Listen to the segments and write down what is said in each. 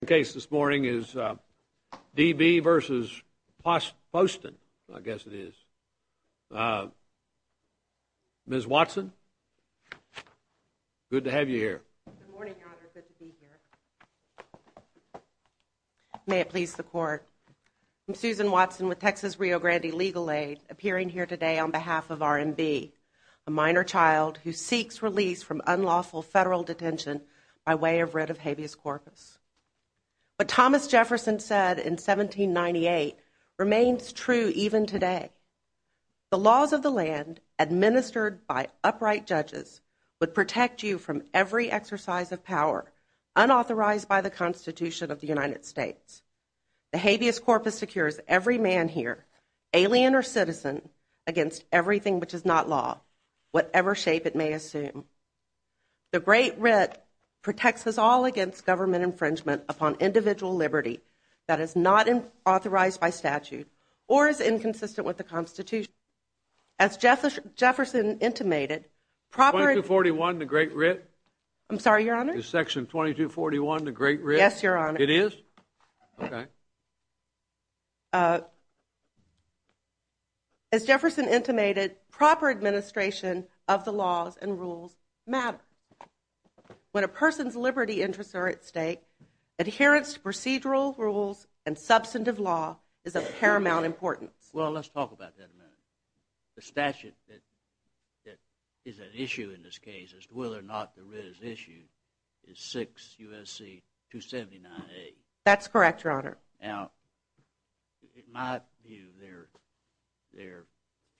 The case this morning is D.B. v. Poston, I guess it is. Ms. Watson, good to have you here. Good morning, Your Honor. Good to be here. May it please the Court, I'm Susan Watson with Texas Rio Grande Legal Aid, appearing here today on behalf of R.M.B., a minor child who seeks release from unlawful federal detention by way of writ of habeas corpus. What Thomas Jefferson said in 1798 remains true even today. The laws of the land, administered by upright judges, would protect you from every exercise of power unauthorized by the Constitution of the United States. The habeas corpus secures every man here, alien or citizen, against everything which is not law, whatever shape it may assume. The great writ protects us all against government infringement upon individual liberty that is not authorized by statute or is inconsistent with the Constitution. As Jefferson intimated, proper... 2241, the great writ? I'm sorry, Your Honor? Is section 2241 the great writ? Yes, Your Honor. It is? Okay. As Jefferson intimated, proper administration of the laws and rules matter. When a person's liberty interests are at stake, adherence to procedural rules and substantive law is of paramount importance. Well, let's talk about that a minute. The statute that is at issue in this case as to whether or not the writ is issued is 6 U.S.C. 279A. That's correct, Your Honor. Now, in my view, there are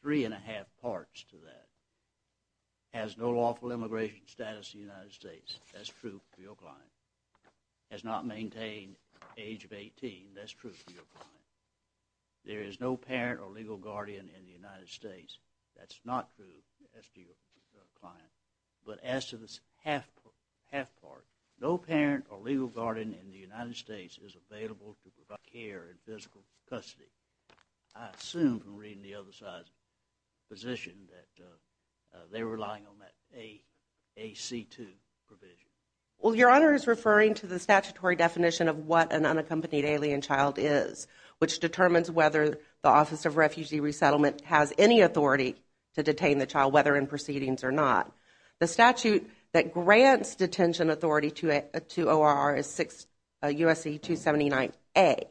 three and a half parts to that. Has no lawful immigration status in the United States. That's true for your client. Has not maintained age of 18. That's true for your client. There is no parent or legal guardian in the United States. That's not true as to your client. But as to this half part, no parent or legal guardian in the United States is available to provide care in physical custody. I assume from reading the other side's position that they're relying on that AC2 provision. Well, Your Honor is referring to the statutory definition of what an unaccompanied alien child is, which determines whether the Office of Refugee Resettlement has any authority to detain the child, whether in proceedings or not. The statute that grants detention authority to ORR is 6 U.S.C. 279A,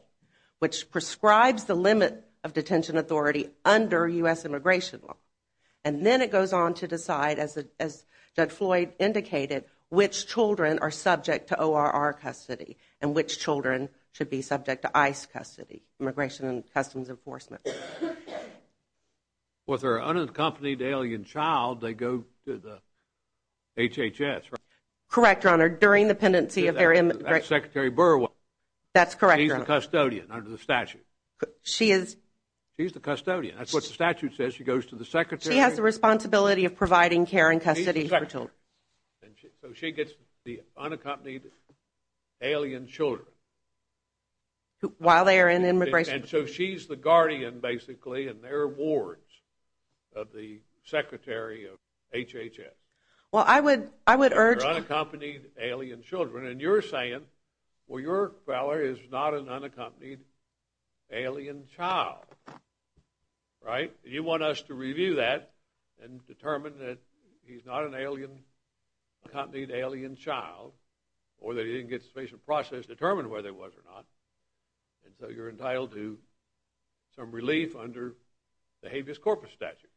which prescribes the limit of detention authority under U.S. immigration law. And then it goes on to decide, as Judge Floyd indicated, which children are subject to ORR custody and which children should be subject to ICE custody, Immigration and Customs Enforcement. With her unaccompanied alien child, they go to the HHS, right? Correct, Your Honor. During the pendency of their immigration. That's Secretary Burwell. That's correct, Your Honor. She's the custodian under the statute. She is. She's the custodian. That's what the statute says. She goes to the Secretary. She has the responsibility of providing care and custody for children. So she gets the unaccompanied alien children. While they are in immigration. And so she's the guardian, basically, in their wards of the Secretary of HHS. Well, I would urge… For unaccompanied alien children. And you're saying, well, your fellow is not an unaccompanied alien child, right? You want us to review that and determine that he's not an unaccompanied alien child or that he didn't get to face a process to determine whether he was or not. And so you're entitled to some relief under the habeas corpus statute.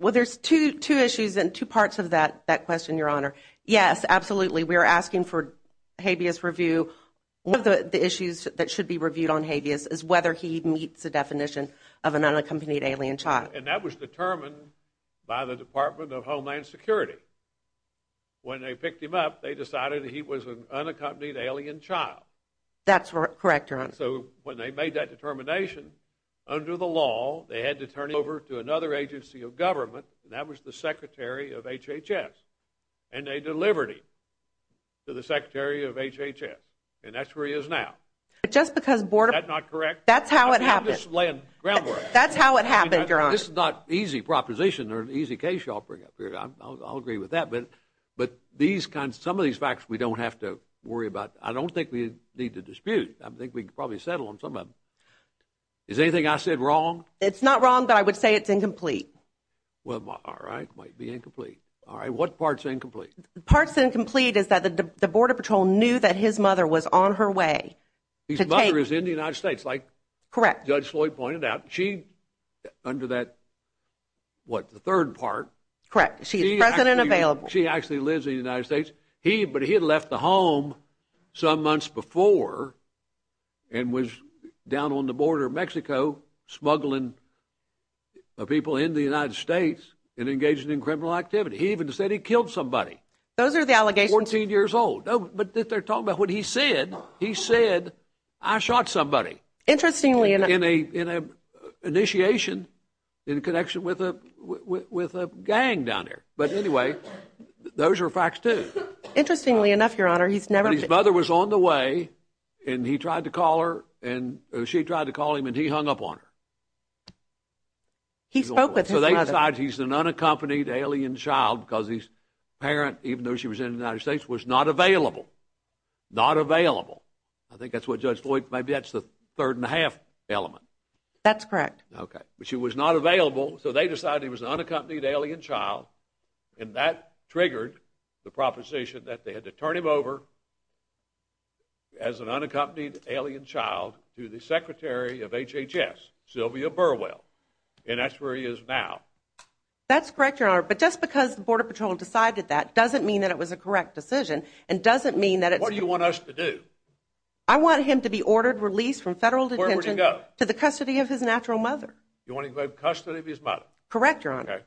Well, there's two issues and two parts of that question, Your Honor. Yes, absolutely. We are asking for habeas review. One of the issues that should be reviewed on habeas is whether he meets the definition of an unaccompanied alien child. And that was determined by the Department of Homeland Security. When they picked him up, they decided he was an unaccompanied alien child. That's correct, Your Honor. So when they made that determination, under the law, they had to turn him over to another agency of government, and that was the Secretary of HHS. And they delivered him to the Secretary of HHS. And that's where he is now. But just because Border… Is that not correct? That's how it happened. I'm just laying groundwork. That's how it happened, Your Honor. This is not an easy proposition or an easy case you all bring up here. I'll agree with that. But some of these facts we don't have to worry about. I don't think we need to dispute. I think we can probably settle on some of them. Is anything I said wrong? It's not wrong, but I would say it's incomplete. All right. It might be incomplete. All right. What part's incomplete? Part's incomplete is that the Border Patrol knew that his mother was on her way to take… His mother is in the United States, like Judge Floyd pointed out. Correct. She, under that, what, the third part… Correct. She is present and available. She actually lives in the United States. But he had left the home some months before and was down on the border of Mexico, smuggling people in the United States and engaging in criminal activity. He even said he killed somebody. Those are the allegations. Fourteen years old. But they're talking about what he said. He said, I shot somebody. Interestingly enough. In a initiation in connection with a gang down there. But anyway, those are facts, too. Interestingly enough, Your Honor, he's never… His mother was on the way and he tried to call her and she tried to call him and he hung up on her. He spoke with his mother. So they decide he's an unaccompanied alien child because his parent, even though she was in the United States, was not available. Not available. I think that's what Judge Floyd, maybe that's the third and a half element. That's correct. But she was not available so they decided he was an unaccompanied alien child and that triggered the proposition that they had to turn him over as an unaccompanied alien child to the Secretary of HHS, Sylvia Burwell. And that's where he is now. That's correct, Your Honor. But just because the Border Patrol decided that doesn't mean that it was a correct decision and doesn't mean that it's… What do you want us to do? I want him to be ordered, released from federal detention… Where would he go? To the custody of his natural mother. You want him to go in custody of his mother? Correct, Your Honor. Okay.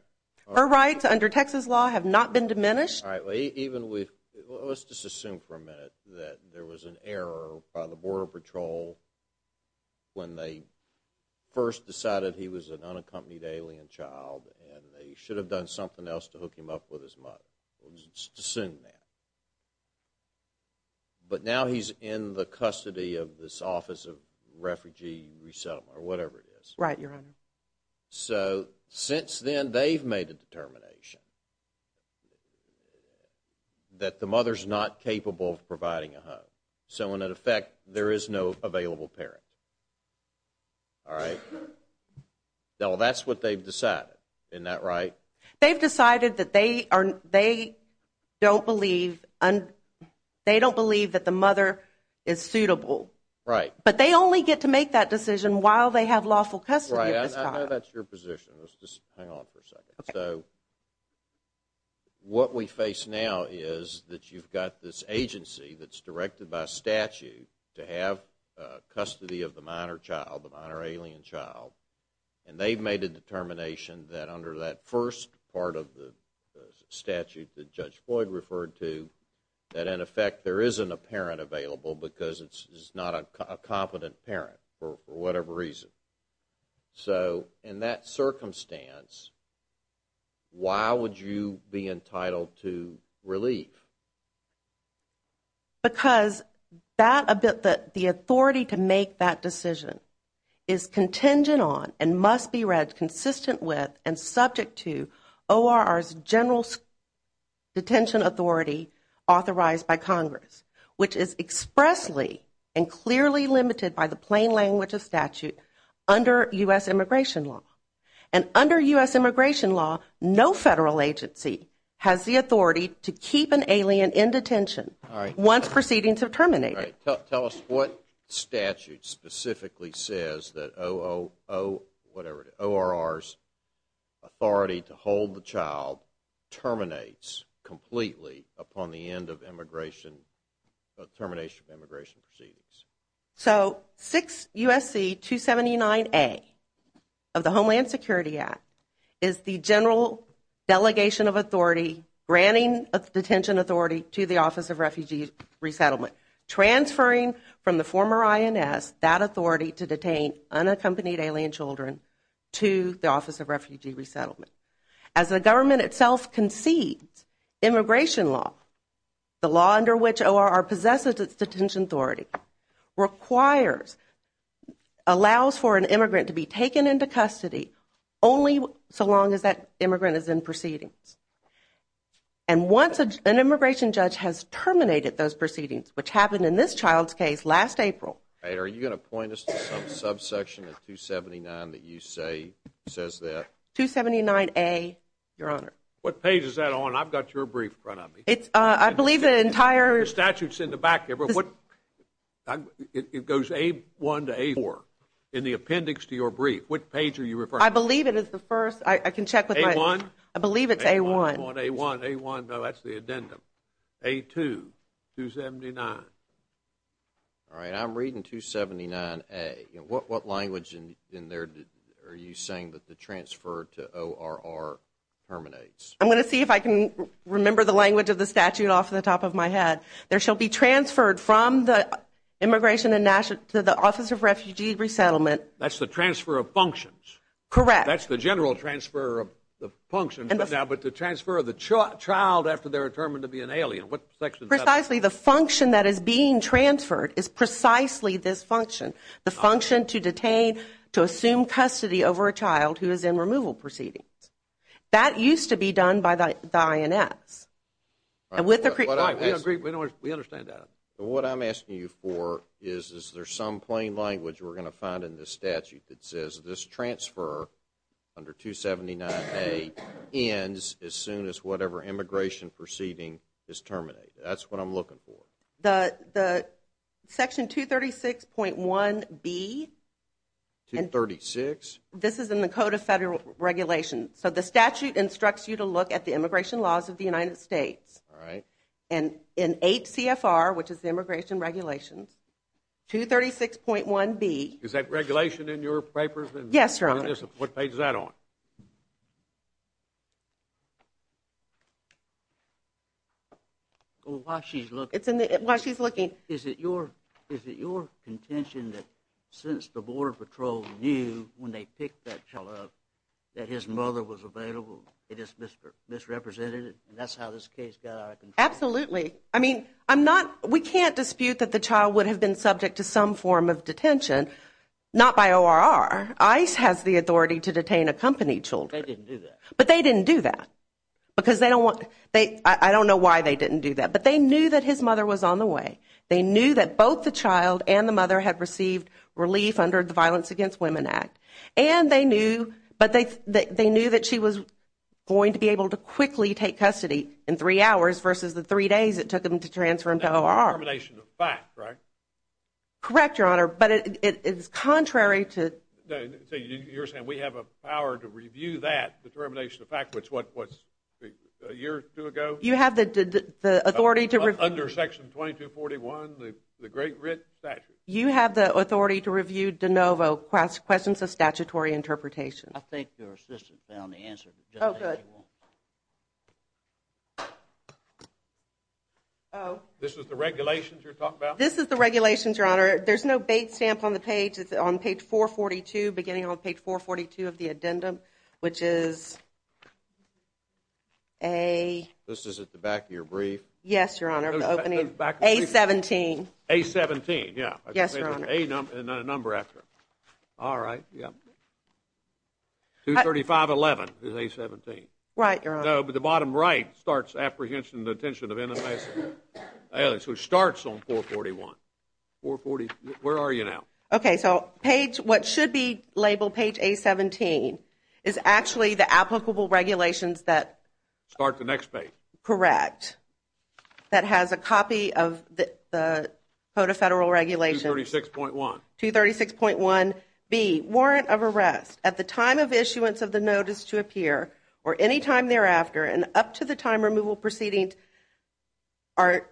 Her rights under Texas law have not been diminished. All right. Let's just assume for a minute that there was an error by the Border Patrol when they first decided he was an unaccompanied alien child and they should have done something else to hook him up with his mother. Let's just assume that. But now he's in the custody of this Office of Refugee Resettlement or whatever it is. Right, Your Honor. So, since then, they've made a determination that the mother's not capable of providing a home. So, in effect, there is no available parent. All right? Now, that's what they've decided. Isn't that right? They've decided that they don't believe that the mother is suitable. Right. But they only get to make that decision while they have lawful custody of this child. Right. I know that's your position. Let's just hang on for a second. Okay. So, what we face now is that you've got this agency that's directed by statute to have custody of the minor child, the minor alien child, and they've made a determination that under that first part of the statute that Judge Floyd referred to, that, in effect, there isn't a parent available because it's not a competent parent for whatever reason. So, in that circumstance, why would you be entitled to relief? Because the authority to make that decision is contingent on and must be read consistent with and subject to ORR's general detention authority authorized by Congress, which is expressly and clearly limited by the plain language of statute under U.S. immigration law. And under U.S. immigration law, no federal agency has the authority to keep an alien in detention once proceedings have terminated. Tell us what statute specifically says that ORR's authority to hold the child terminates completely upon the end of termination of immigration proceedings. So, 6 U.S.C. 279A of the Homeland Security Act is the general delegation of authority granting a detention authority to the Office of Refugee Resettlement, transferring from the former INS that authority to detain unaccompanied alien children to the Office of Refugee Resettlement. As the government itself concedes immigration law, the law under which ORR possesses its detention authority requires, allows for an immigrant to be taken into custody only so long as that immigrant is in proceedings. And once an immigration judge has terminated those proceedings, which happened in this child's case last April. Are you going to point us to some subsection of 279 that you say says that? 279A, Your Honor. What page is that on? I've got your brief in front of me. I believe the entire statute is in the back. It goes A1 to A4 in the appendix to your brief. What page are you referring to? I believe it is the first. I can check with my eyes. A1? I believe it's A1. A1, A1, A1. No, that's the addendum. A2, 279. All right, I'm reading 279A. What language in there are you saying that the transfer to ORR terminates? I'm going to see if I can remember the language of the statute off the top of my head. There shall be transferred from the immigration to the Office of Refugee Resettlement. That's the transfer of functions. Correct. That's the general transfer of functions. But the transfer of the child after they're determined to be an alien, what section is that? Precisely, the function that is being transferred is precisely this function, the function to detain, to assume custody over a child who is in removal proceedings. That used to be done by the INS. We agree. We understand that. What I'm asking you for is, is there some plain language we're going to find in this statute that says this transfer under 279A ends as soon as whatever immigration proceeding is terminated? That's what I'm looking for. The section 236.1B. 236? This is in the Code of Federal Regulations. So the statute instructs you to look at the immigration laws of the United States. All right. And in 8 CFR, which is the Immigration Regulations, 236.1B. Is that regulation in your papers? Yes, Your Honor. What page is that on? While she's looking. While she's looking. Is it your contention that since the Border Patrol knew when they picked that child up that his mother was available, they just misrepresented it? And that's how this case got out of control? Absolutely. I mean, I'm not, we can't dispute that the child would have been subject to some form of detention. Not by ORR. ICE has the authority to detain accompanied children. They didn't do that. But they didn't do that. Because they don't want, I don't know why they didn't do that. But they knew that his mother was on the way. They knew that both the child and the mother had received relief under the Violence Against Women Act. And they knew, but they knew that she was going to be able to quickly take custody in three hours versus the three days it took them to transfer him to ORR. Determination of fact, right? Correct, Your Honor. But it's contrary to. So you're saying we have a power to review that determination of fact, which was a year or two ago? You have the authority to review. Under Section 2241, the Great Writ Statute. You have the authority to review de novo questions of statutory interpretation. I think your assistant found the answer. Oh, good. This is the regulations you're talking about? This is the regulations, Your Honor. There's no bait stamp on the page. It's on page 442, beginning on page 442 of the addendum, which is a. This is at the back of your brief. Yes, Your Honor. The opening of A-17. A-17, yeah. Yes, Your Honor. A number after it. All right, yeah. 235-11 is A-17. Right, Your Honor. No, but the bottom right starts apprehension and detention of innocent. So it starts on 441. 440, where are you now? Okay, so page, what should be labeled page A-17 is actually the applicable regulations that. Start the next page. Correct. That has a copy of the Code of Federal Regulations. 236.1. 236.1B, warrant of arrest at the time of issuance of the notice to appear or any time thereafter and up to the time removal proceedings are,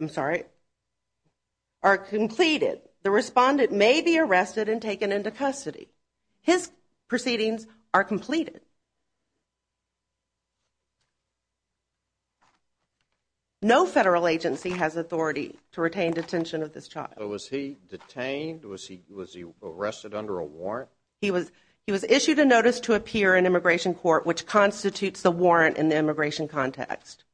I'm sorry, are completed. The respondent may be arrested and taken into custody. His proceedings are completed. No federal agency has authority to retain detention of this child. So was he detained? Was he arrested under a warrant? He was issued a notice to appear in immigration court which constitutes the warrant in the immigration context.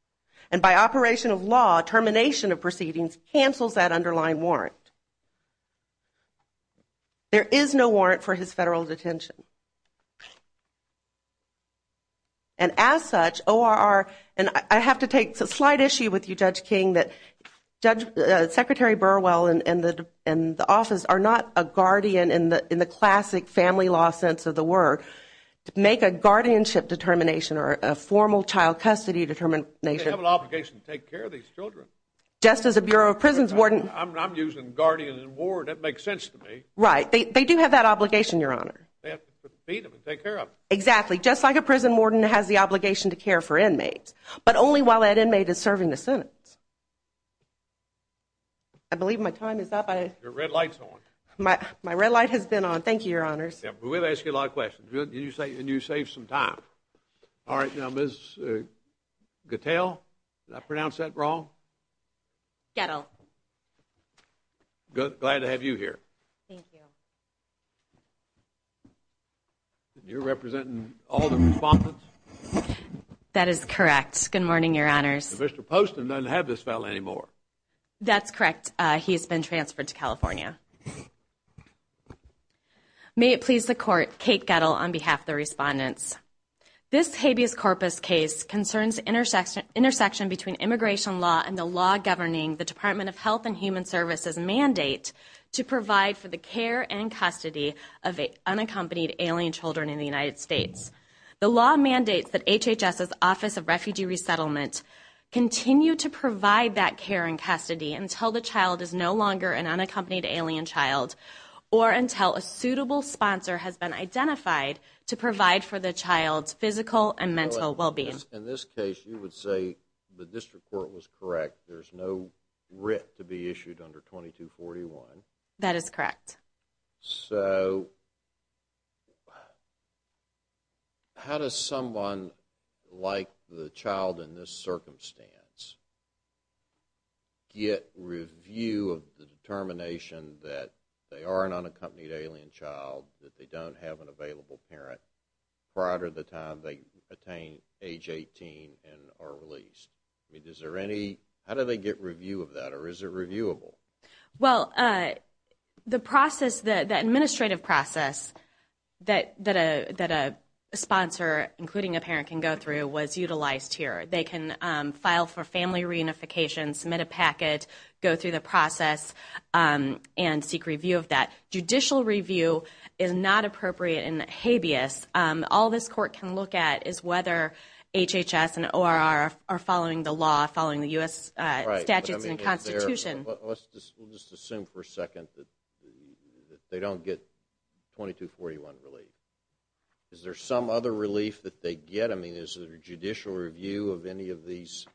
And by operation of law, termination of proceedings cancels that underlying warrant. There is no warrant for his federal detention. And as such, ORR, and I have to take a slight issue with you, Judge King, that Secretary Burwell and the office are not a guardian in the classic family law sense of the word to make a guardianship determination or a formal child custody determination. They have an obligation to take care of these children. Just as a Bureau of Prisons warden. I'm using guardian and warden. That makes sense to me. Right. They do have that obligation, Your Honor. They have to feed them and take care of them. Exactly. Just like a prison warden has the obligation to care for inmates. But only while that inmate is serving the sentence. I believe my time is up. Your red light's on. My red light has been on. Thank you, Your Honors. We've asked you a lot of questions. And you saved some time. All right. Now, Ms. Gattell, did I pronounce that wrong? Gattell. Glad to have you here. Thank you. You're representing all the respondents? That is correct. Good morning, Your Honors. Mr. Poston doesn't have this file anymore. That's correct. He has been transferred to California. May it please the Court, Kate Gattell on behalf of the respondents. This habeas corpus case concerns intersection between immigration law and the law governing the Department of Health and Human Services mandate to provide for the care and custody of unaccompanied alien children in the United States. The law mandates that HHS's Office of Refugee Resettlement continue to provide that care and custody until the child is no longer an unaccompanied alien child or until a suitable sponsor has been provided for the child's physical and mental well-being. In this case, you would say the district court was correct. There's no writ to be issued under 2241. That is correct. So how does someone like the child in this circumstance get review of the determination that they are an unaccompanied alien child, that they don't have an available parent, prior to the time they attain age 18 and are released? How do they get review of that, or is it reviewable? Well, the administrative process that a sponsor, including a parent, can go through was utilized here. They can file for family reunification, submit a packet, go through the process, and seek review of that. Judicial review is not appropriate and habeas. All this court can look at is whether HHS and ORR are following the law, following the U.S. statutes and Constitution. Let's just assume for a second that they don't get 2241 relief. Is there some other relief that they get? I mean, is there judicial review of any of these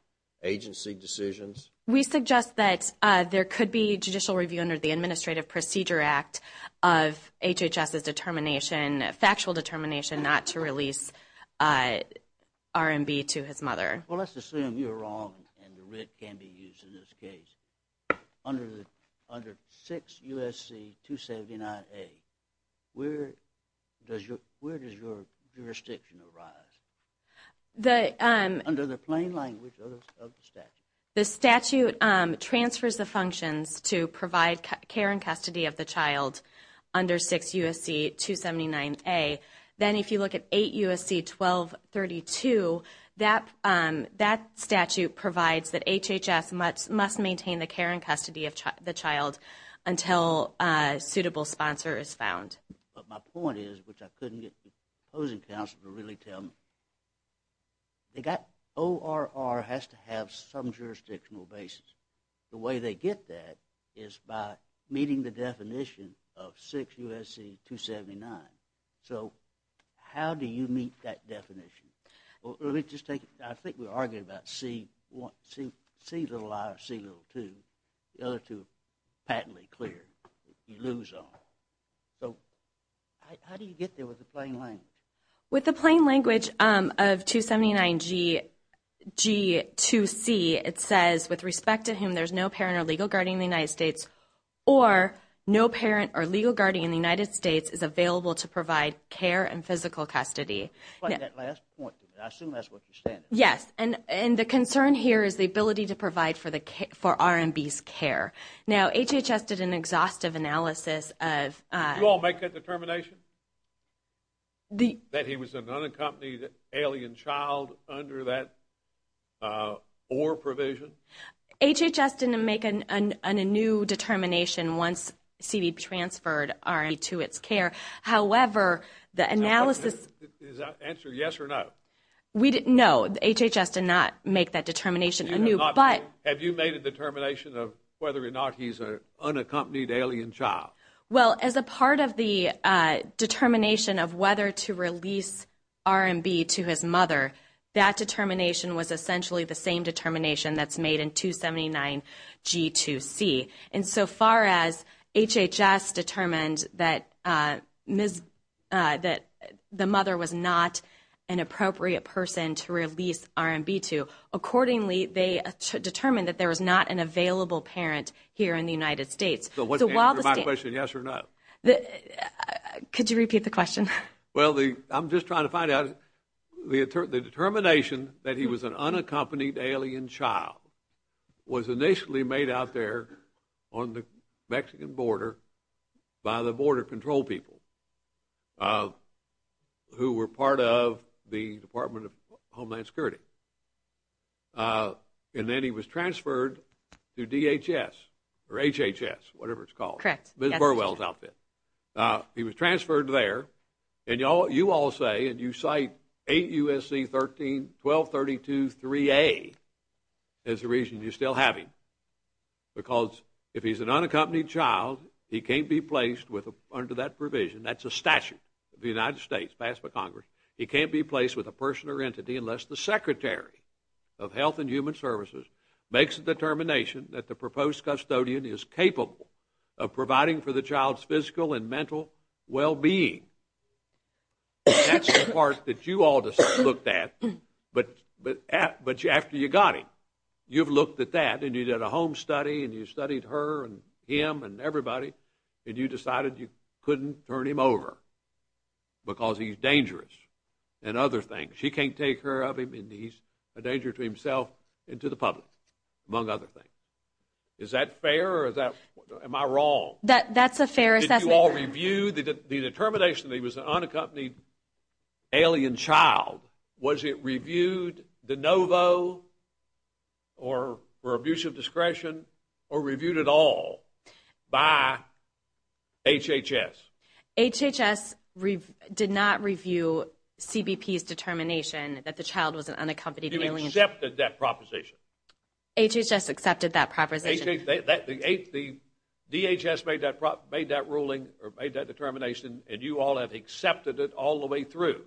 agency decisions? We suggest that there could be judicial review under the effect of HHS's determination, factual determination, not to release R&B to his mother. Well, let's assume you're wrong and the writ can be used in this case. Under 6 U.S.C. 279A, where does your jurisdiction arise? Under the plain language of the statute. The statute transfers the functions to provide care and custody of the child under 6 U.S.C. 279A. Then if you look at 8 U.S.C. 1232, that statute provides that HHS must maintain the care and custody of the child until a suitable sponsor is found. But my point is, which I couldn't get the opposing counsel to really tell me, ORR has to have some jurisdictional basis. The way they get that is by meeting the definition of 6 U.S.C. 279. So how do you meet that definition? Let me just take it. I think we were arguing about C, little I or C, little II. The other two are patently clear. You lose all. So how do you get there with the plain language? With the plain language of 279G2C, it says, with respect to whom there's no parent or legal guardian in the United States, or no parent or legal guardian in the United States is available to provide care and physical custody. That last point, I assume that's what you're saying. Yes. And the concern here is the ability to provide for RMB's care. Now, HHS did an exhaustive analysis of – Did you all make that determination? That he was an unaccompanied alien child under that ORR provision? HHS didn't make a new determination once CD transferred RMB to its care. However, the analysis – Is that answer yes or no? No, HHS did not make that determination. Have you made a determination of whether or not he's an unaccompanied alien child? Well, as a part of the determination of whether to release RMB to his mother, that determination was essentially the same determination that's made in 279G2C. And so far as HHS determined that the mother was not an appropriate person to release RMB to, accordingly they determined that there was not an available parent here in the United States. So was the answer to my question yes or no? Could you repeat the question? Well, I'm just trying to find out. The determination that he was an unaccompanied alien child was initially made out there on the Mexican border by the border control people who were part of the Department of Homeland Security. And then he was transferred to DHS or HHS, whatever it's called. Correct. Ms. Burwell's outfit. He was transferred there. And you all say and you cite 8 U.S.C. 1232-3A as the reason you still have him because if he's an unaccompanied child, he can't be placed under that provision. That's a statute of the United States passed by Congress. He can't be placed with a person or entity unless the Secretary of Health and Human Services makes a determination that the proposed custodian is capable of providing for the child's physical and mental well-being. That's the part that you all looked at, but after you got him, you've looked at that and you did a home study and you studied her and him and everybody and you decided you couldn't turn him over because he's dangerous and other things. He can't take care of him and he's a danger to himself and to the public, among other things. Is that fair or am I wrong? That's a fair assessment. Did you all review the determination that he was an unaccompanied alien child? Was it reviewed de novo or for abuse of discretion or reviewed at all by HHS? HHS did not review CBP's determination that the child was an unaccompanied alien. You accepted that proposition. HHS accepted that proposition. The DHS made that ruling or made that determination and you all have accepted it all the way through.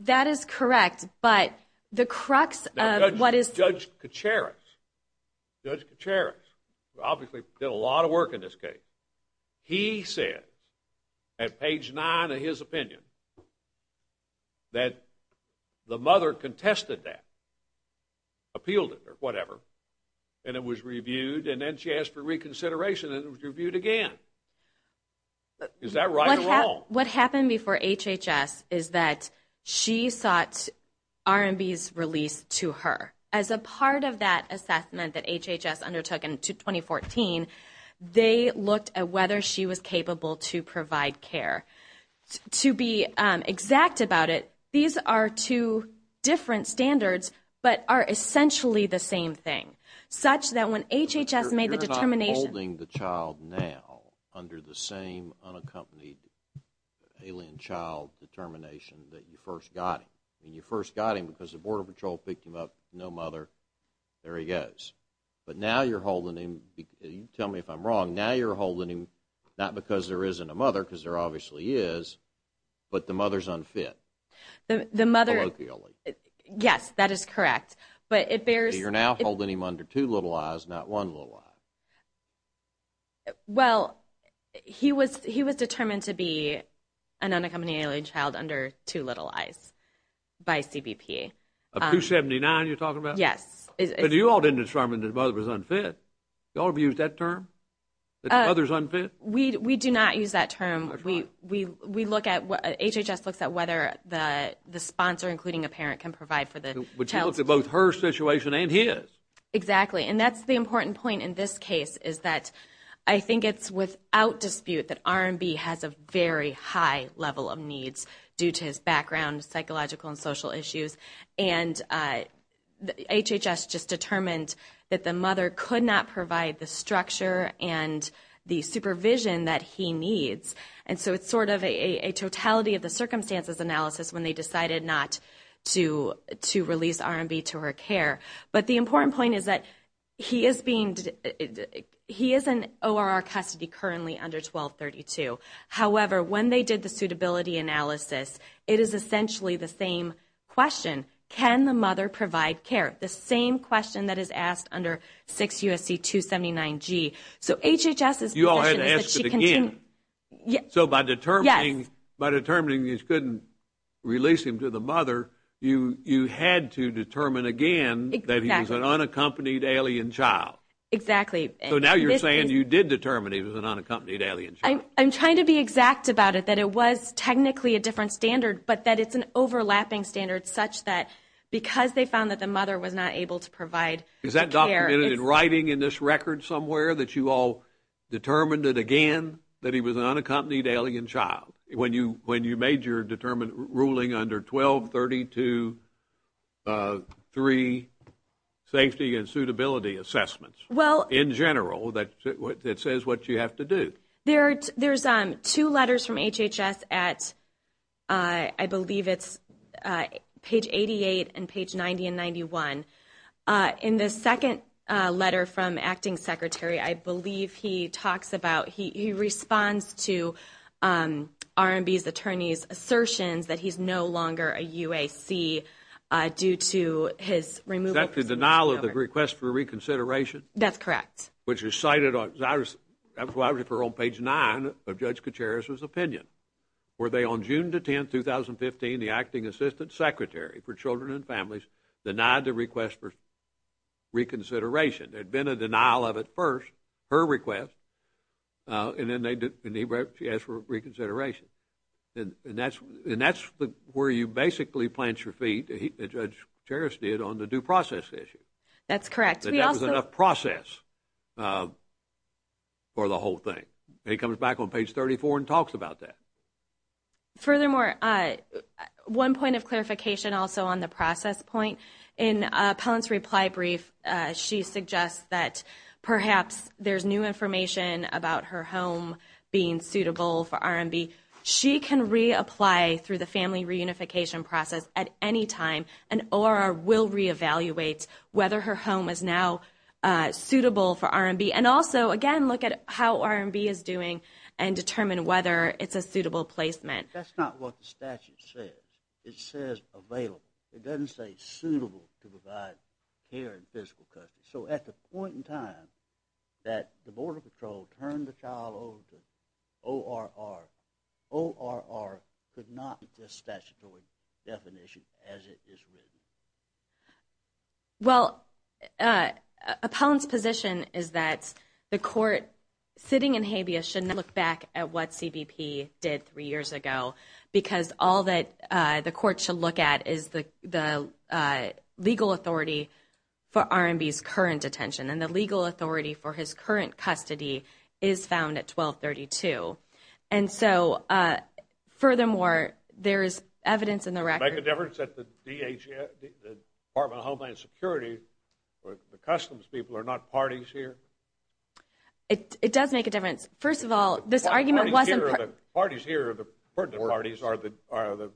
That is correct, but the crux of what is... Judge Kacharis, Judge Kacharis, who obviously did a lot of work in this case, he said at page nine of his opinion that the mother contested that, appealed it or whatever, and it was reviewed and then she asked for reconsideration and it was reviewed again. Is that right or wrong? What happened before HHS is that she sought RMB's release to her. As a part of that assessment that HHS undertook in 2014, they looked at whether she was capable to provide care. To be exact about it, these are two different standards but are essentially the same thing, such that when HHS made the determination... alien child determination that you first got him, and you first got him because the Border Patrol picked him up, no mother, there he goes. But now you're holding him, tell me if I'm wrong, now you're holding him not because there isn't a mother because there obviously is, but the mother's unfit. The mother... Colloquially. Yes, that is correct, but it bears... You're now holding him under two little eyes, not one little eye. Well, he was determined to be an unaccompanied alien child under two little eyes by CBP. Of 279 you're talking about? Yes. But you all didn't determine that the mother was unfit. You all have used that term, that the mother's unfit? We do not use that term. HHS looks at whether the sponsor, including a parent, can provide for the child. But you looked at both her situation and his. Exactly. And that's the important point in this case, is that I think it's without dispute that R&B has a very high level of needs due to his background, psychological and social issues. And HHS just determined that the mother could not provide the structure and the supervision that he needs. And so it's sort of a totality of the circumstances analysis when they decided not to release R&B to her care. But the important point is that he is in ORR custody currently under 1232. However, when they did the suitability analysis, it is essentially the same question. Can the mother provide care? The same question that is asked under 6 U.S.C. 279G. So HHS's position is that she can take care. So by determining he couldn't release him to the mother, you had to determine again that he was an unaccompanied alien child. Exactly. So now you're saying you did determine he was an unaccompanied alien child. I'm trying to be exact about it, that it was technically a different standard, but that it's an overlapping standard such that because they found that the mother was not able to provide the care. Is that documented in writing in this record somewhere, that you all determined it again that he was an unaccompanied alien child when you made your ruling under 1232, three safety and suitability assessments in general that says what you have to do? There's two letters from HHS at, I believe it's page 88 and page 90 and 91. In the second letter from Acting Secretary, I believe he talks about, he responds to RMB's attorney's assertions that he's no longer a UAC due to his removal. Is that the denial of the request for reconsideration? That's correct. Which is cited on, that's why I refer on page 9 of Judge Kacharis' opinion, where they on June 10, 2015, the Acting Assistant Secretary for Children and Families denied the request for reconsideration. There had been a denial of it first, her request, and then she asked for reconsideration. And that's where you basically plant your feet, as Judge Kacharis did, on the due process issue. That's correct. That there was enough process for the whole thing. And he comes back on page 34 and talks about that. Furthermore, one point of clarification also on the process point, in Pellant's reply brief, she suggests that perhaps there's new information about her home being suitable for RMB. She can reapply through the family reunification process at any time and ORR will reevaluate whether her home is now suitable for RMB. And also, again, look at how RMB is doing and determine whether it's a suitable placement. That's not what the statute says. It says available. It doesn't say suitable to provide care and physical custody. So at the point in time that the Border Patrol turned the child over to ORR, ORR could not meet this statutory definition as it is written. Well, Pellant's position is that the court, sitting in habeas, should not look back at what CBP did three years ago because all that the court should look at is the legal authority for RMB's current detention. And the legal authority for his current custody is found at 1232. And so, furthermore, there is evidence in the record. Does it make a difference that the Department of Homeland Security, the customs people, are not parties here? It does make a difference. First of all, this argument wasn't part of it. The parties here, the parties are the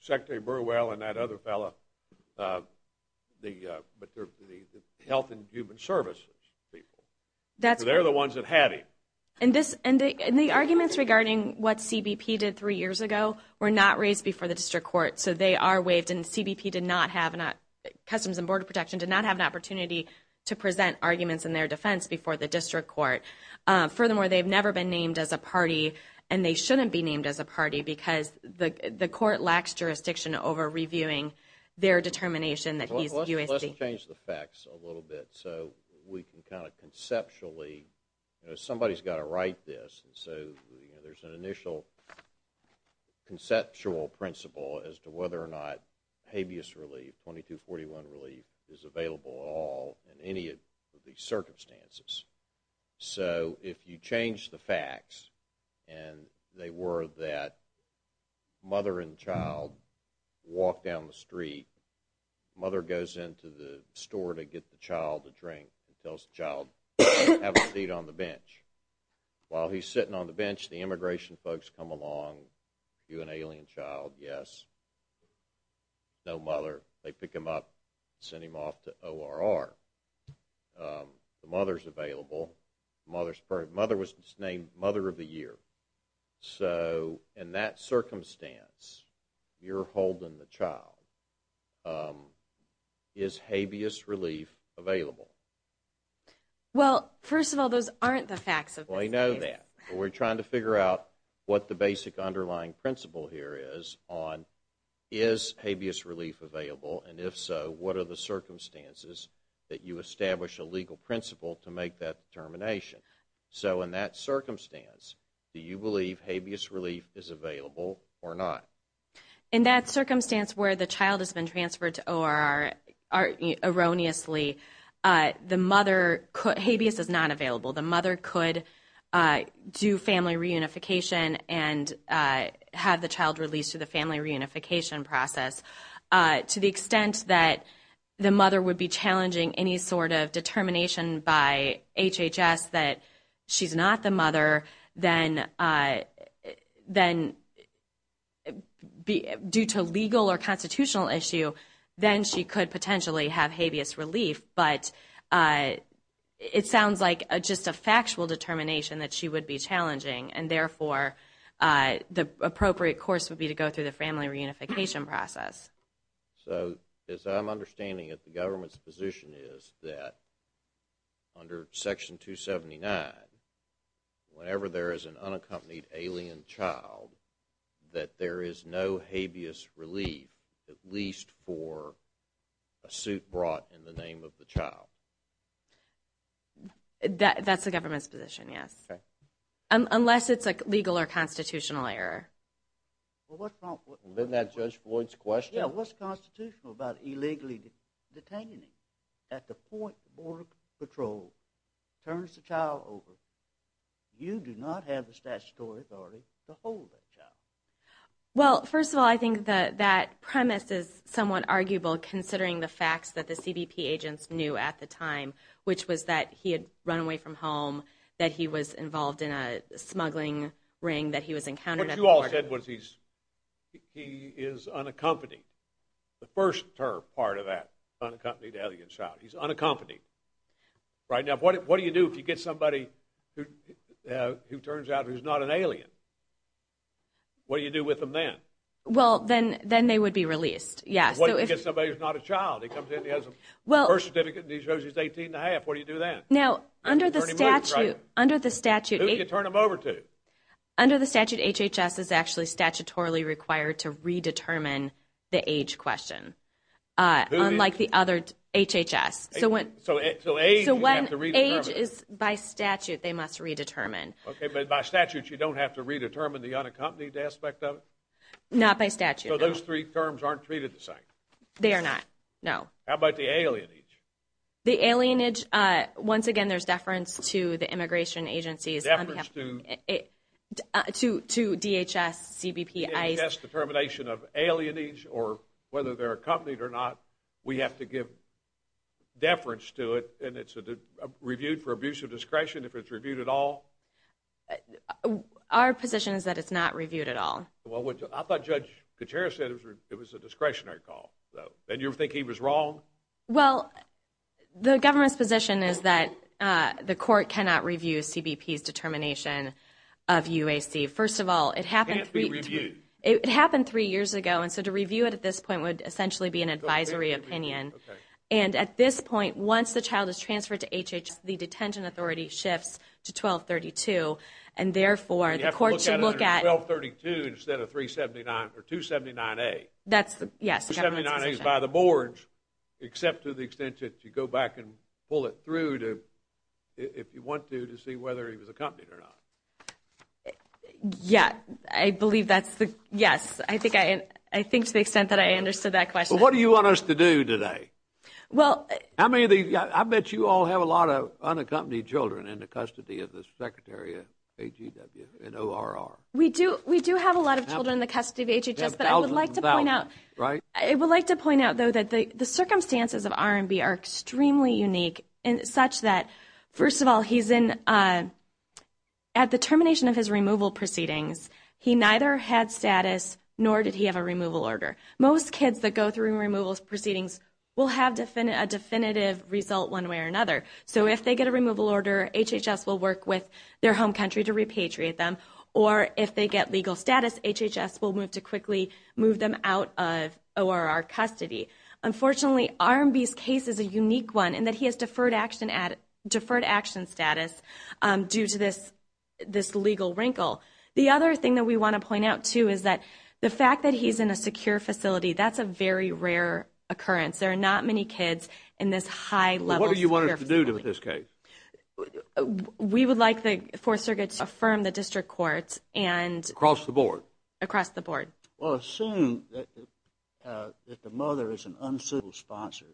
Secretary Burwell and that other fellow, but they're the Health and Human Services people. They're the ones that had him. And the arguments regarding what CBP did three years ago were not raised before the district court. So they are waived, and CBP did not have, Customs and Border Protection did not have an opportunity to present arguments in their defense before the district court. Furthermore, they've never been named as a party, and they shouldn't be named as a party because the court lacks jurisdiction over reviewing their determination that he's USC. Let's change the facts a little bit so we can kind of conceptually, somebody's got to write this, and so there's an initial conceptual principle as to whether or not habeas relief, or 2241 relief, is available at all in any of these circumstances. So if you change the facts, and they were that mother and child walk down the street, mother goes into the store to get the child a drink and tells the child, have a seat on the bench. While he's sitting on the bench, the immigration folks come along, do an alien child, yes. No mother. They pick him up, send him off to ORR. The mother's available. Mother was named Mother of the Year. So in that circumstance, you're holding the child. Is habeas relief available? Well, first of all, those aren't the facts of this case. We know that. We're trying to figure out what the basic underlying principle here is on, is habeas relief available? And if so, what are the circumstances that you establish a legal principle to make that determination? So in that circumstance, do you believe habeas relief is available or not? In that circumstance where the child has been transferred to ORR, erroneously, the mother, habeas is not available. The mother could do family reunification and have the child released through the family reunification process. To the extent that the mother would be challenging any sort of determination by HHS that she's not the mother, then due to legal or constitutional issue, then she could potentially have habeas relief. But it sounds like just a factual determination that she would be challenging, and therefore the appropriate course would be to go through the family reunification process. So as I'm understanding it, the government's position is that under Section 279, whenever there is an unaccompanied alien child, that there is no habeas relief, at least for a suit brought in the name of the child? That's the government's position, yes. Unless it's a legal or constitutional error. Wasn't that Judge Floyd's question? Yeah, what's constitutional about illegally detaining? At the point the Border Patrol turns the child over, you do not have the statutory authority to hold that child. Well, first of all, I think that premise is somewhat arguable, considering the facts that the CBP agents knew at the time, which was that he had run away from home, that he was involved in a smuggling ring, that he was encountered at the market. What you all said was he is unaccompanied. The first part of that, unaccompanied alien child, he's unaccompanied. Right now, what do you do if you get somebody who turns out he's not an alien? What do you do with them then? Well, then they would be released, yes. What if you get somebody who's not a child? He comes in, he has a birth certificate, and he shows he's 18 and a half. What do you do then? Now, under the statute… Who do you turn him over to? Under the statute, HHS is actually statutorily required to redetermine the age question, unlike the other HHS. So when age is by statute, they must redetermine. Okay, but by statute, you don't have to redetermine the unaccompanied aspect of it? Not by statute, no. So those three terms aren't treated the same? They are not, no. How about the alienage? The alienage, once again, there's deference to the immigration agencies. Deference to? To DHS, CBP, ICE. DHS determination of alienage, or whether they're accompanied or not, we have to give deference to it. And it's reviewed for abuse of discretion if it's reviewed at all? Our position is that it's not reviewed at all. I thought Judge Gutierrez said it was a discretionary call, and you think he was wrong? Well, the government's position is that the court cannot review CBP's determination of UAC. First of all, it happened three years ago, and so to review it at this point would essentially be an advisory opinion. And at this point, once the child is transferred to HHS, the detention authority shifts to 1232, and therefore the court should look at it. You have to look at it under 1232 instead of 279A. Yes, the government's position. 279A is by the boards, except to the extent that you go back and pull it through if you want to to see whether he was accompanied or not. Yeah, I believe that's the yes. I think to the extent that I understood that question. Well, what do you want us to do today? I bet you all have a lot of unaccompanied children in the custody of the Secretary of AGW and ORR. We do have a lot of children in the custody of HHS, but I would like to point out, I would like to point out, though, that the circumstances of R&B are extremely unique, such that, first of all, at the termination of his removal proceedings, he neither had status nor did he have a removal order. Most kids that go through removal proceedings will have a definitive result one way or another. So if they get a removal order, HHS will work with their home country to repatriate them, or if they get legal status, HHS will move to quickly move them out of ORR custody. Unfortunately, R&B's case is a unique one in that he has deferred action status due to this legal wrinkle. The other thing that we want to point out, too, is that the fact that he's in a secure facility, that's a very rare occurrence. There are not many kids in this high-level secure facility. What do you want us to do with this case? We would like the Fourth Circuit to affirm the district courts and across the board. Well, assume that the mother is an unsuitable sponsor.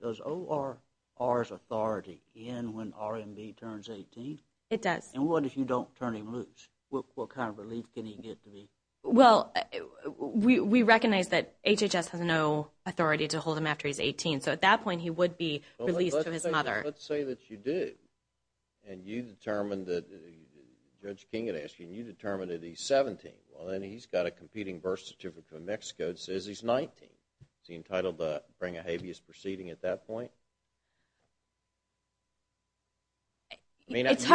Does ORR's authority end when R&B turns 18? It does. And what if you don't turn him loose? What kind of relief can he get? Well, we recognize that HHS has no authority to hold him after he's 18, so at that point he would be released to his mother. Let's say that you do, and you determine that Judge King had asked you, and you determined that he's 17. Well, then he's got a competing birth certificate from Mexico that says he's 19. Is he entitled to bring a habeas proceeding at that point? I mean, if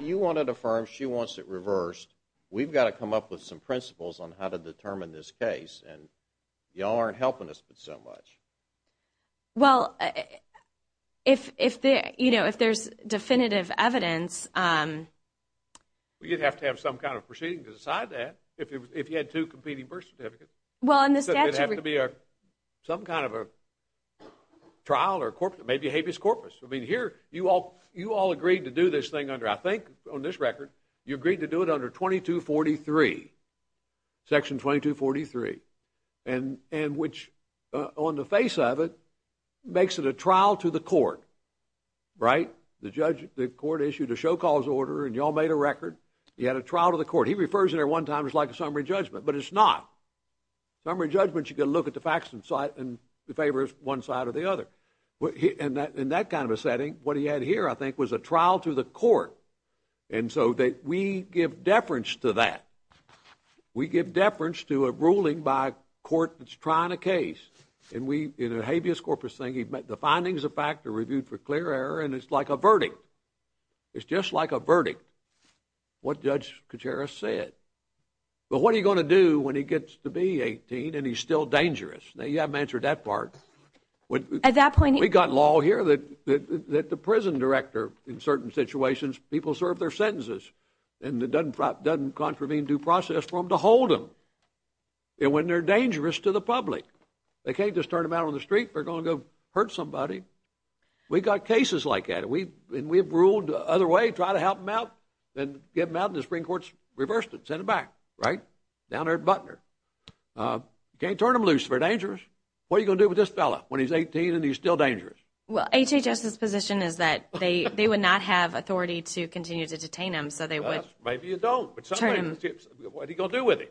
you want to affirm she wants it reversed, we've got to come up with some principles on how to determine this case, and you all aren't helping us, but so much. Well, if there's definitive evidence. You'd have to have some kind of proceeding to decide that, if you had two competing birth certificates. Well, in the statute. It would have to be some kind of a trial or maybe a habeas corpus. I mean, here you all agreed to do this thing under, I think on this record, you agreed to do it under 2243, Section 2243, and which on the face of it makes it a trial to the court, right? The court issued a show cause order, and you all made a record. You had a trial to the court. He refers to it one time as like a summary judgment, but it's not. Summary judgments, you've got to look at the facts, and the favor is one side or the other. In that kind of a setting, what he had here, I think, was a trial to the court, and so we give deference to that. We give deference to a ruling by a court that's trying a case, and in a habeas corpus thing, the findings of fact are reviewed for clear error, and it's like a verdict. It's just like a verdict, what Judge Kuchera said. But what are you going to do when he gets to be 18 and he's still dangerous? Now, you haven't answered that part. We've got law here that the prison director, in certain situations, people serve their sentences, and it doesn't contravene due process for them to hold them. And when they're dangerous to the public, they can't just turn them out on the street. They're going to hurt somebody. We've got cases like that, and we've ruled the other way, try to help them out and get them out, and the Supreme Court's reversed it, sent them back, right, down there at Butner. You can't turn them loose if they're dangerous. What are you going to do with this fellow when he's 18 and he's still dangerous? Well, HHS's position is that they would not have authority to continue to detain him. Maybe you don't. What are you going to do with him?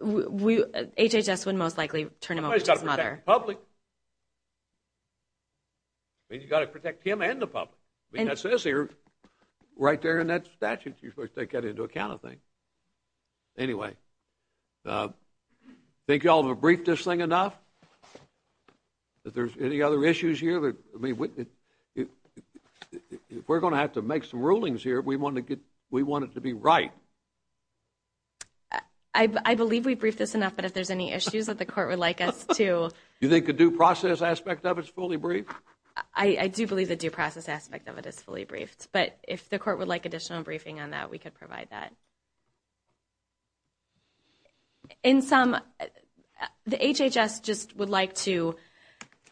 HHS would most likely turn him over to his mother. He's got to protect the public. You've got to protect him and the public. It says here right there in that statute you're supposed to take that into account. Anyway, I think you all have briefed this thing enough. Are there any other issues here? If we're going to have to make some rulings here, we want it to be right. I believe we've briefed this enough, but if there's any issues that the court would like us to... Do you think the due process aspect of it is fully briefed? I do believe the due process aspect of it is fully briefed, but if the court would like additional briefing on that, we could provide that. In sum, the HHS just would like to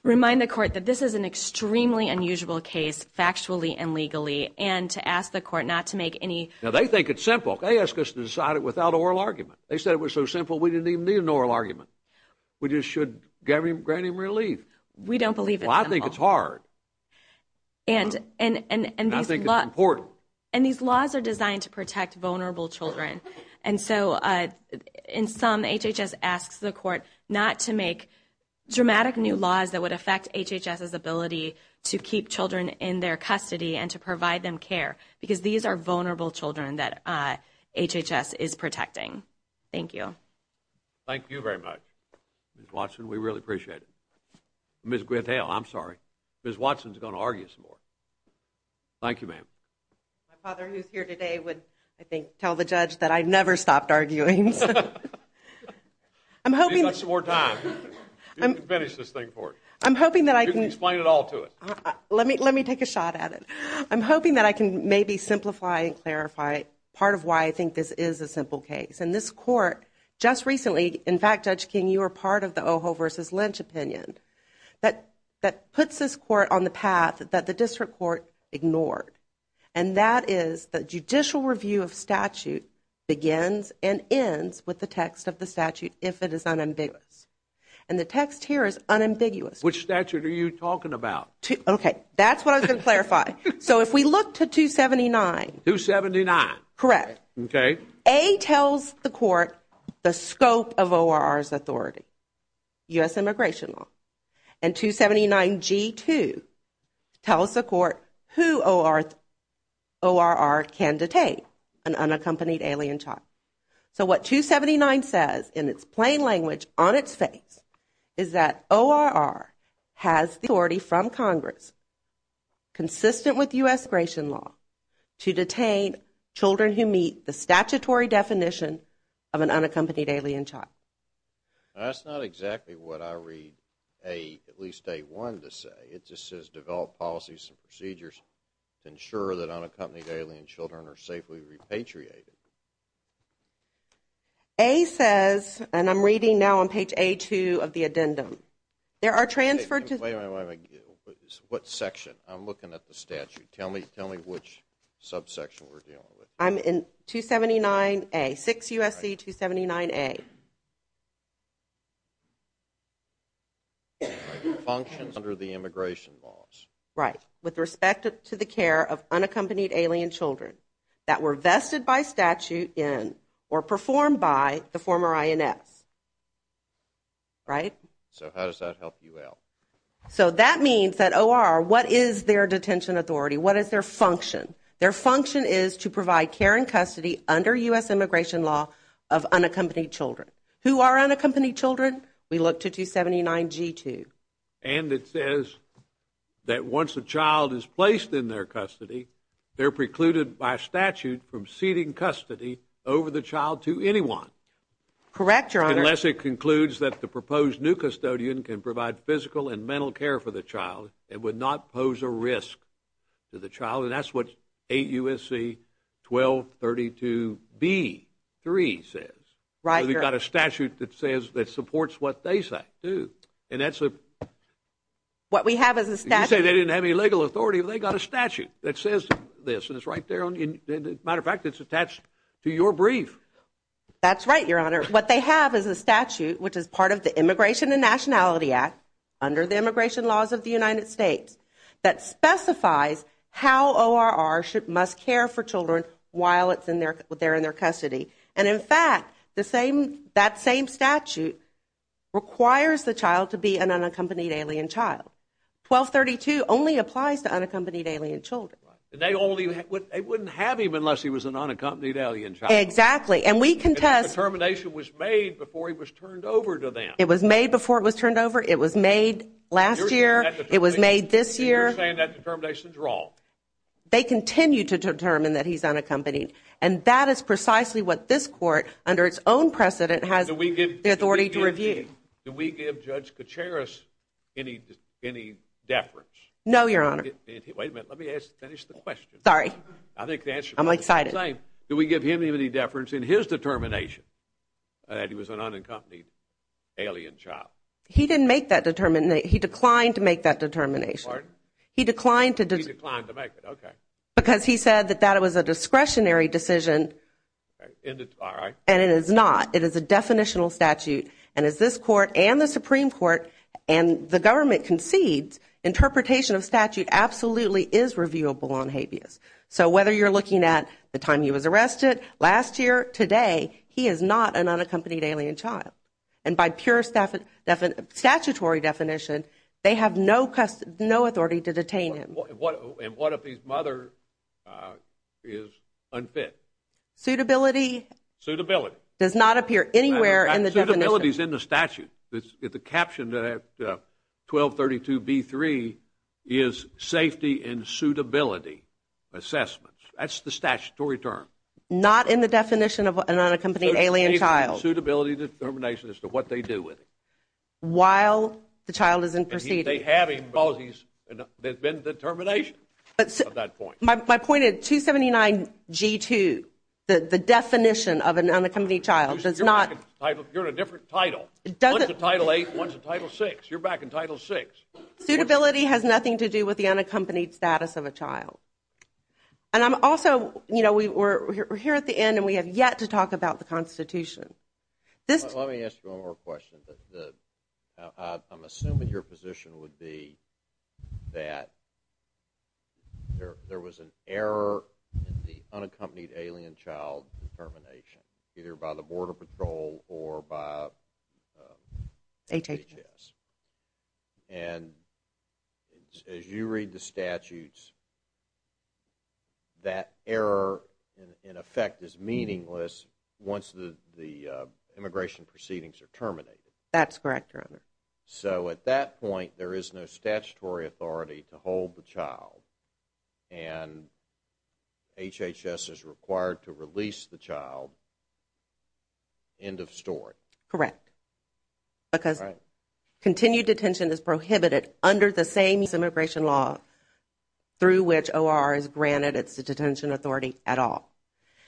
remind the court that this is an extremely unusual case, factually and legally, and to ask the court not to make any... Now, they think it's simple. They asked us to decide it without oral argument. They said it was so simple we didn't even need an oral argument. We just should grant him relief. We don't believe it's simple. Well, I think it's hard. And I think it's important. And these laws are designed to protect vulnerable children, and so in sum, HHS asks the court not to make dramatic new laws that would affect HHS's ability to keep children in their custody and to provide them care, because these are vulnerable children that HHS is protecting. Thank you. Thank you very much, Ms. Watson. We really appreciate it. Ms. Gretel, I'm sorry. Ms. Watson is going to argue some more. Thank you, ma'am. My father, who's here today, would, I think, tell the judge that I never stopped arguing. Give us some more time. You can finish this thing for us. I'm hoping that I can... You can explain it all to us. Let me take a shot at it. I'm hoping that I can maybe simplify and clarify part of why I think this is a simple case. In this court, just recently, in fact, Judge King, you were part of the Ojo v. Lynch opinion that puts this court on the path that the district court ignored, and that is that judicial review of statute begins and ends with the text of the statute if it is unambiguous. And the text here is unambiguous. Which statute are you talking about? Okay, that's what I was going to clarify. So if we look to 279... 279. Correct. Okay. A tells the court the scope of ORR's authority, U.S. immigration law. And 279G2 tells the court who ORR can detain, an unaccompanied alien child. So what 279 says, in its plain language, on its face, is that ORR has the authority from Congress, consistent with U.S. immigration law, to detain children who meet the statutory definition of an unaccompanied alien child. That's not exactly what I read at least A1 to say. It just says develop policies and procedures to ensure that unaccompanied alien children are safely repatriated. A says, and I'm reading now on page A2 of the addendum, there are transferred to... Wait a minute, wait a minute. What section? I'm looking at the statute. Tell me which subsection we're dealing with. I'm in 279A, 6 U.S.C. 279A. Functions under the immigration laws. Right. With respect to the care of unaccompanied alien children that were vested by statute in, or performed by, the former INS. Right? So how does that help you out? So that means that ORR, what is their detention authority? What is their function? Their function is to provide care and custody under U.S. immigration law of unaccompanied children. Who are unaccompanied children? We look to 279G2. And it says that once a child is placed in their custody, they're precluded by statute from ceding custody over the child to anyone. Correct, Your Honor. Unless it concludes that the proposed new custodian can provide physical and mental care for the child and would not pose a risk to the child. And that's what 8 U.S.C. 1232B3 says. Right, Your Honor. So they've got a statute that says, that supports what they say, too. And that's a – What we have is a statute – You say they didn't have any legal authority, but they've got a statute that says this. And it's right there on the – as a matter of fact, it's attached to your brief. That's right, Your Honor. What they have is a statute, which is part of the Immigration and Nationality Act, under the immigration laws of the United States, that specifies how ORR must care for children while they're in their custody. And, in fact, that same statute requires the child to be an unaccompanied alien child. 1232 only applies to unaccompanied alien children. They wouldn't have him unless he was an unaccompanied alien child. Exactly. And we contest – And the determination was made before he was turned over to them. It was made before it was turned over. It was made last year. It was made this year. You're saying that determination's wrong. They continue to determine that he's unaccompanied. And that is precisely what this court, under its own precedent, has the authority to review. Do we give Judge Kacharis any deference? No, Your Honor. Wait a minute. Let me finish the question. Sorry. I think the answer – I'm excited. Do we give him any deference in his determination that he was an unaccompanied alien child? He didn't make that determination. He declined to make that determination. Pardon? He declined to – He declined to make it. Okay. Because he said that that was a discretionary decision. All right. And it is not. It is a definitional statute. And as this court and the Supreme Court and the government concedes, interpretation of statute absolutely is reviewable on habeas. So whether you're looking at the time he was arrested, last year, today, he is not an unaccompanied alien child. And by pure statutory definition, they have no authority to detain him. And what if his mother is unfit? Suitability – Suitability. Does not appear anywhere in the definition. Suitability's in the statute. The caption that 1232B3 is safety and suitability assessments. That's the statutory term. Not in the definition of an unaccompanied alien child. Suitability determination as to what they do with him. While the child is in proceedings. They have him because there's been determination at that point. My point is 279G2, the definition of an unaccompanied child, does not – You're in a different title. One's a Title VIII, one's a Title VI. You're back in Title VI. Suitability has nothing to do with the unaccompanied status of a child. And I'm also, you know, we're here at the end, and we have yet to talk about the Constitution. Let me ask you one more question. I'm assuming your position would be that there was an error in the unaccompanied alien child determination, either by the Border Patrol or by HHS. And as you read the statutes, that error, in effect, is meaningless once the immigration proceedings are terminated. That's correct, Your Honor. So at that point, there is no statutory authority to hold the child. And HHS is required to release the child. End of story. Correct. Because continued detention is prohibited under the same immigration law through which OR is granted its detention authority at all.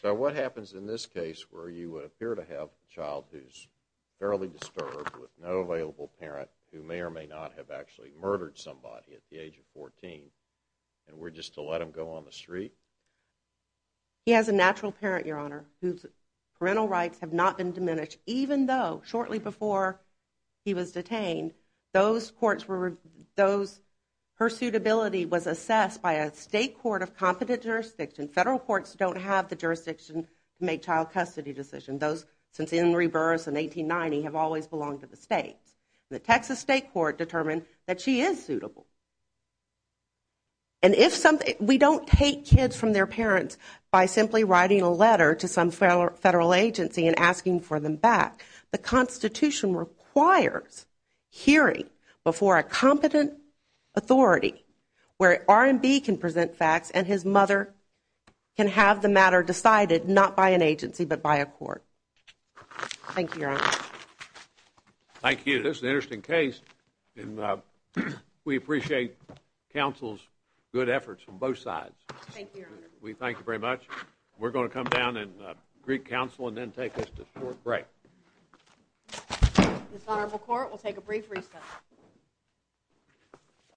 So what happens in this case where you appear to have a child who's fairly disturbed with no available parent who may or may not have actually murdered somebody at the age of 14, and we're just to let him go on the street? He has a natural parent, Your Honor, whose parental rights have not been diminished, even though shortly before he was detained, those courts were, those, her suitability was assessed by a state court of competent jurisdiction. Federal courts don't have the jurisdiction to make child custody decisions. Those since Henry Burris in 1890 have always belonged to the states. The Texas state court determined that she is suitable. And if something, we don't take kids from their parents by simply writing a letter to some federal agency and asking for them back. The Constitution requires hearing before a competent authority where R&B can present facts and his mother can have the matter decided not by an agency but by a court. Thank you, Your Honor. Thank you. This is an interesting case, and we appreciate counsel's good efforts from both sides. Thank you, Your Honor. We thank you very much. We're going to come down and greet counsel and then take a short break. This honorable court will take a brief recess.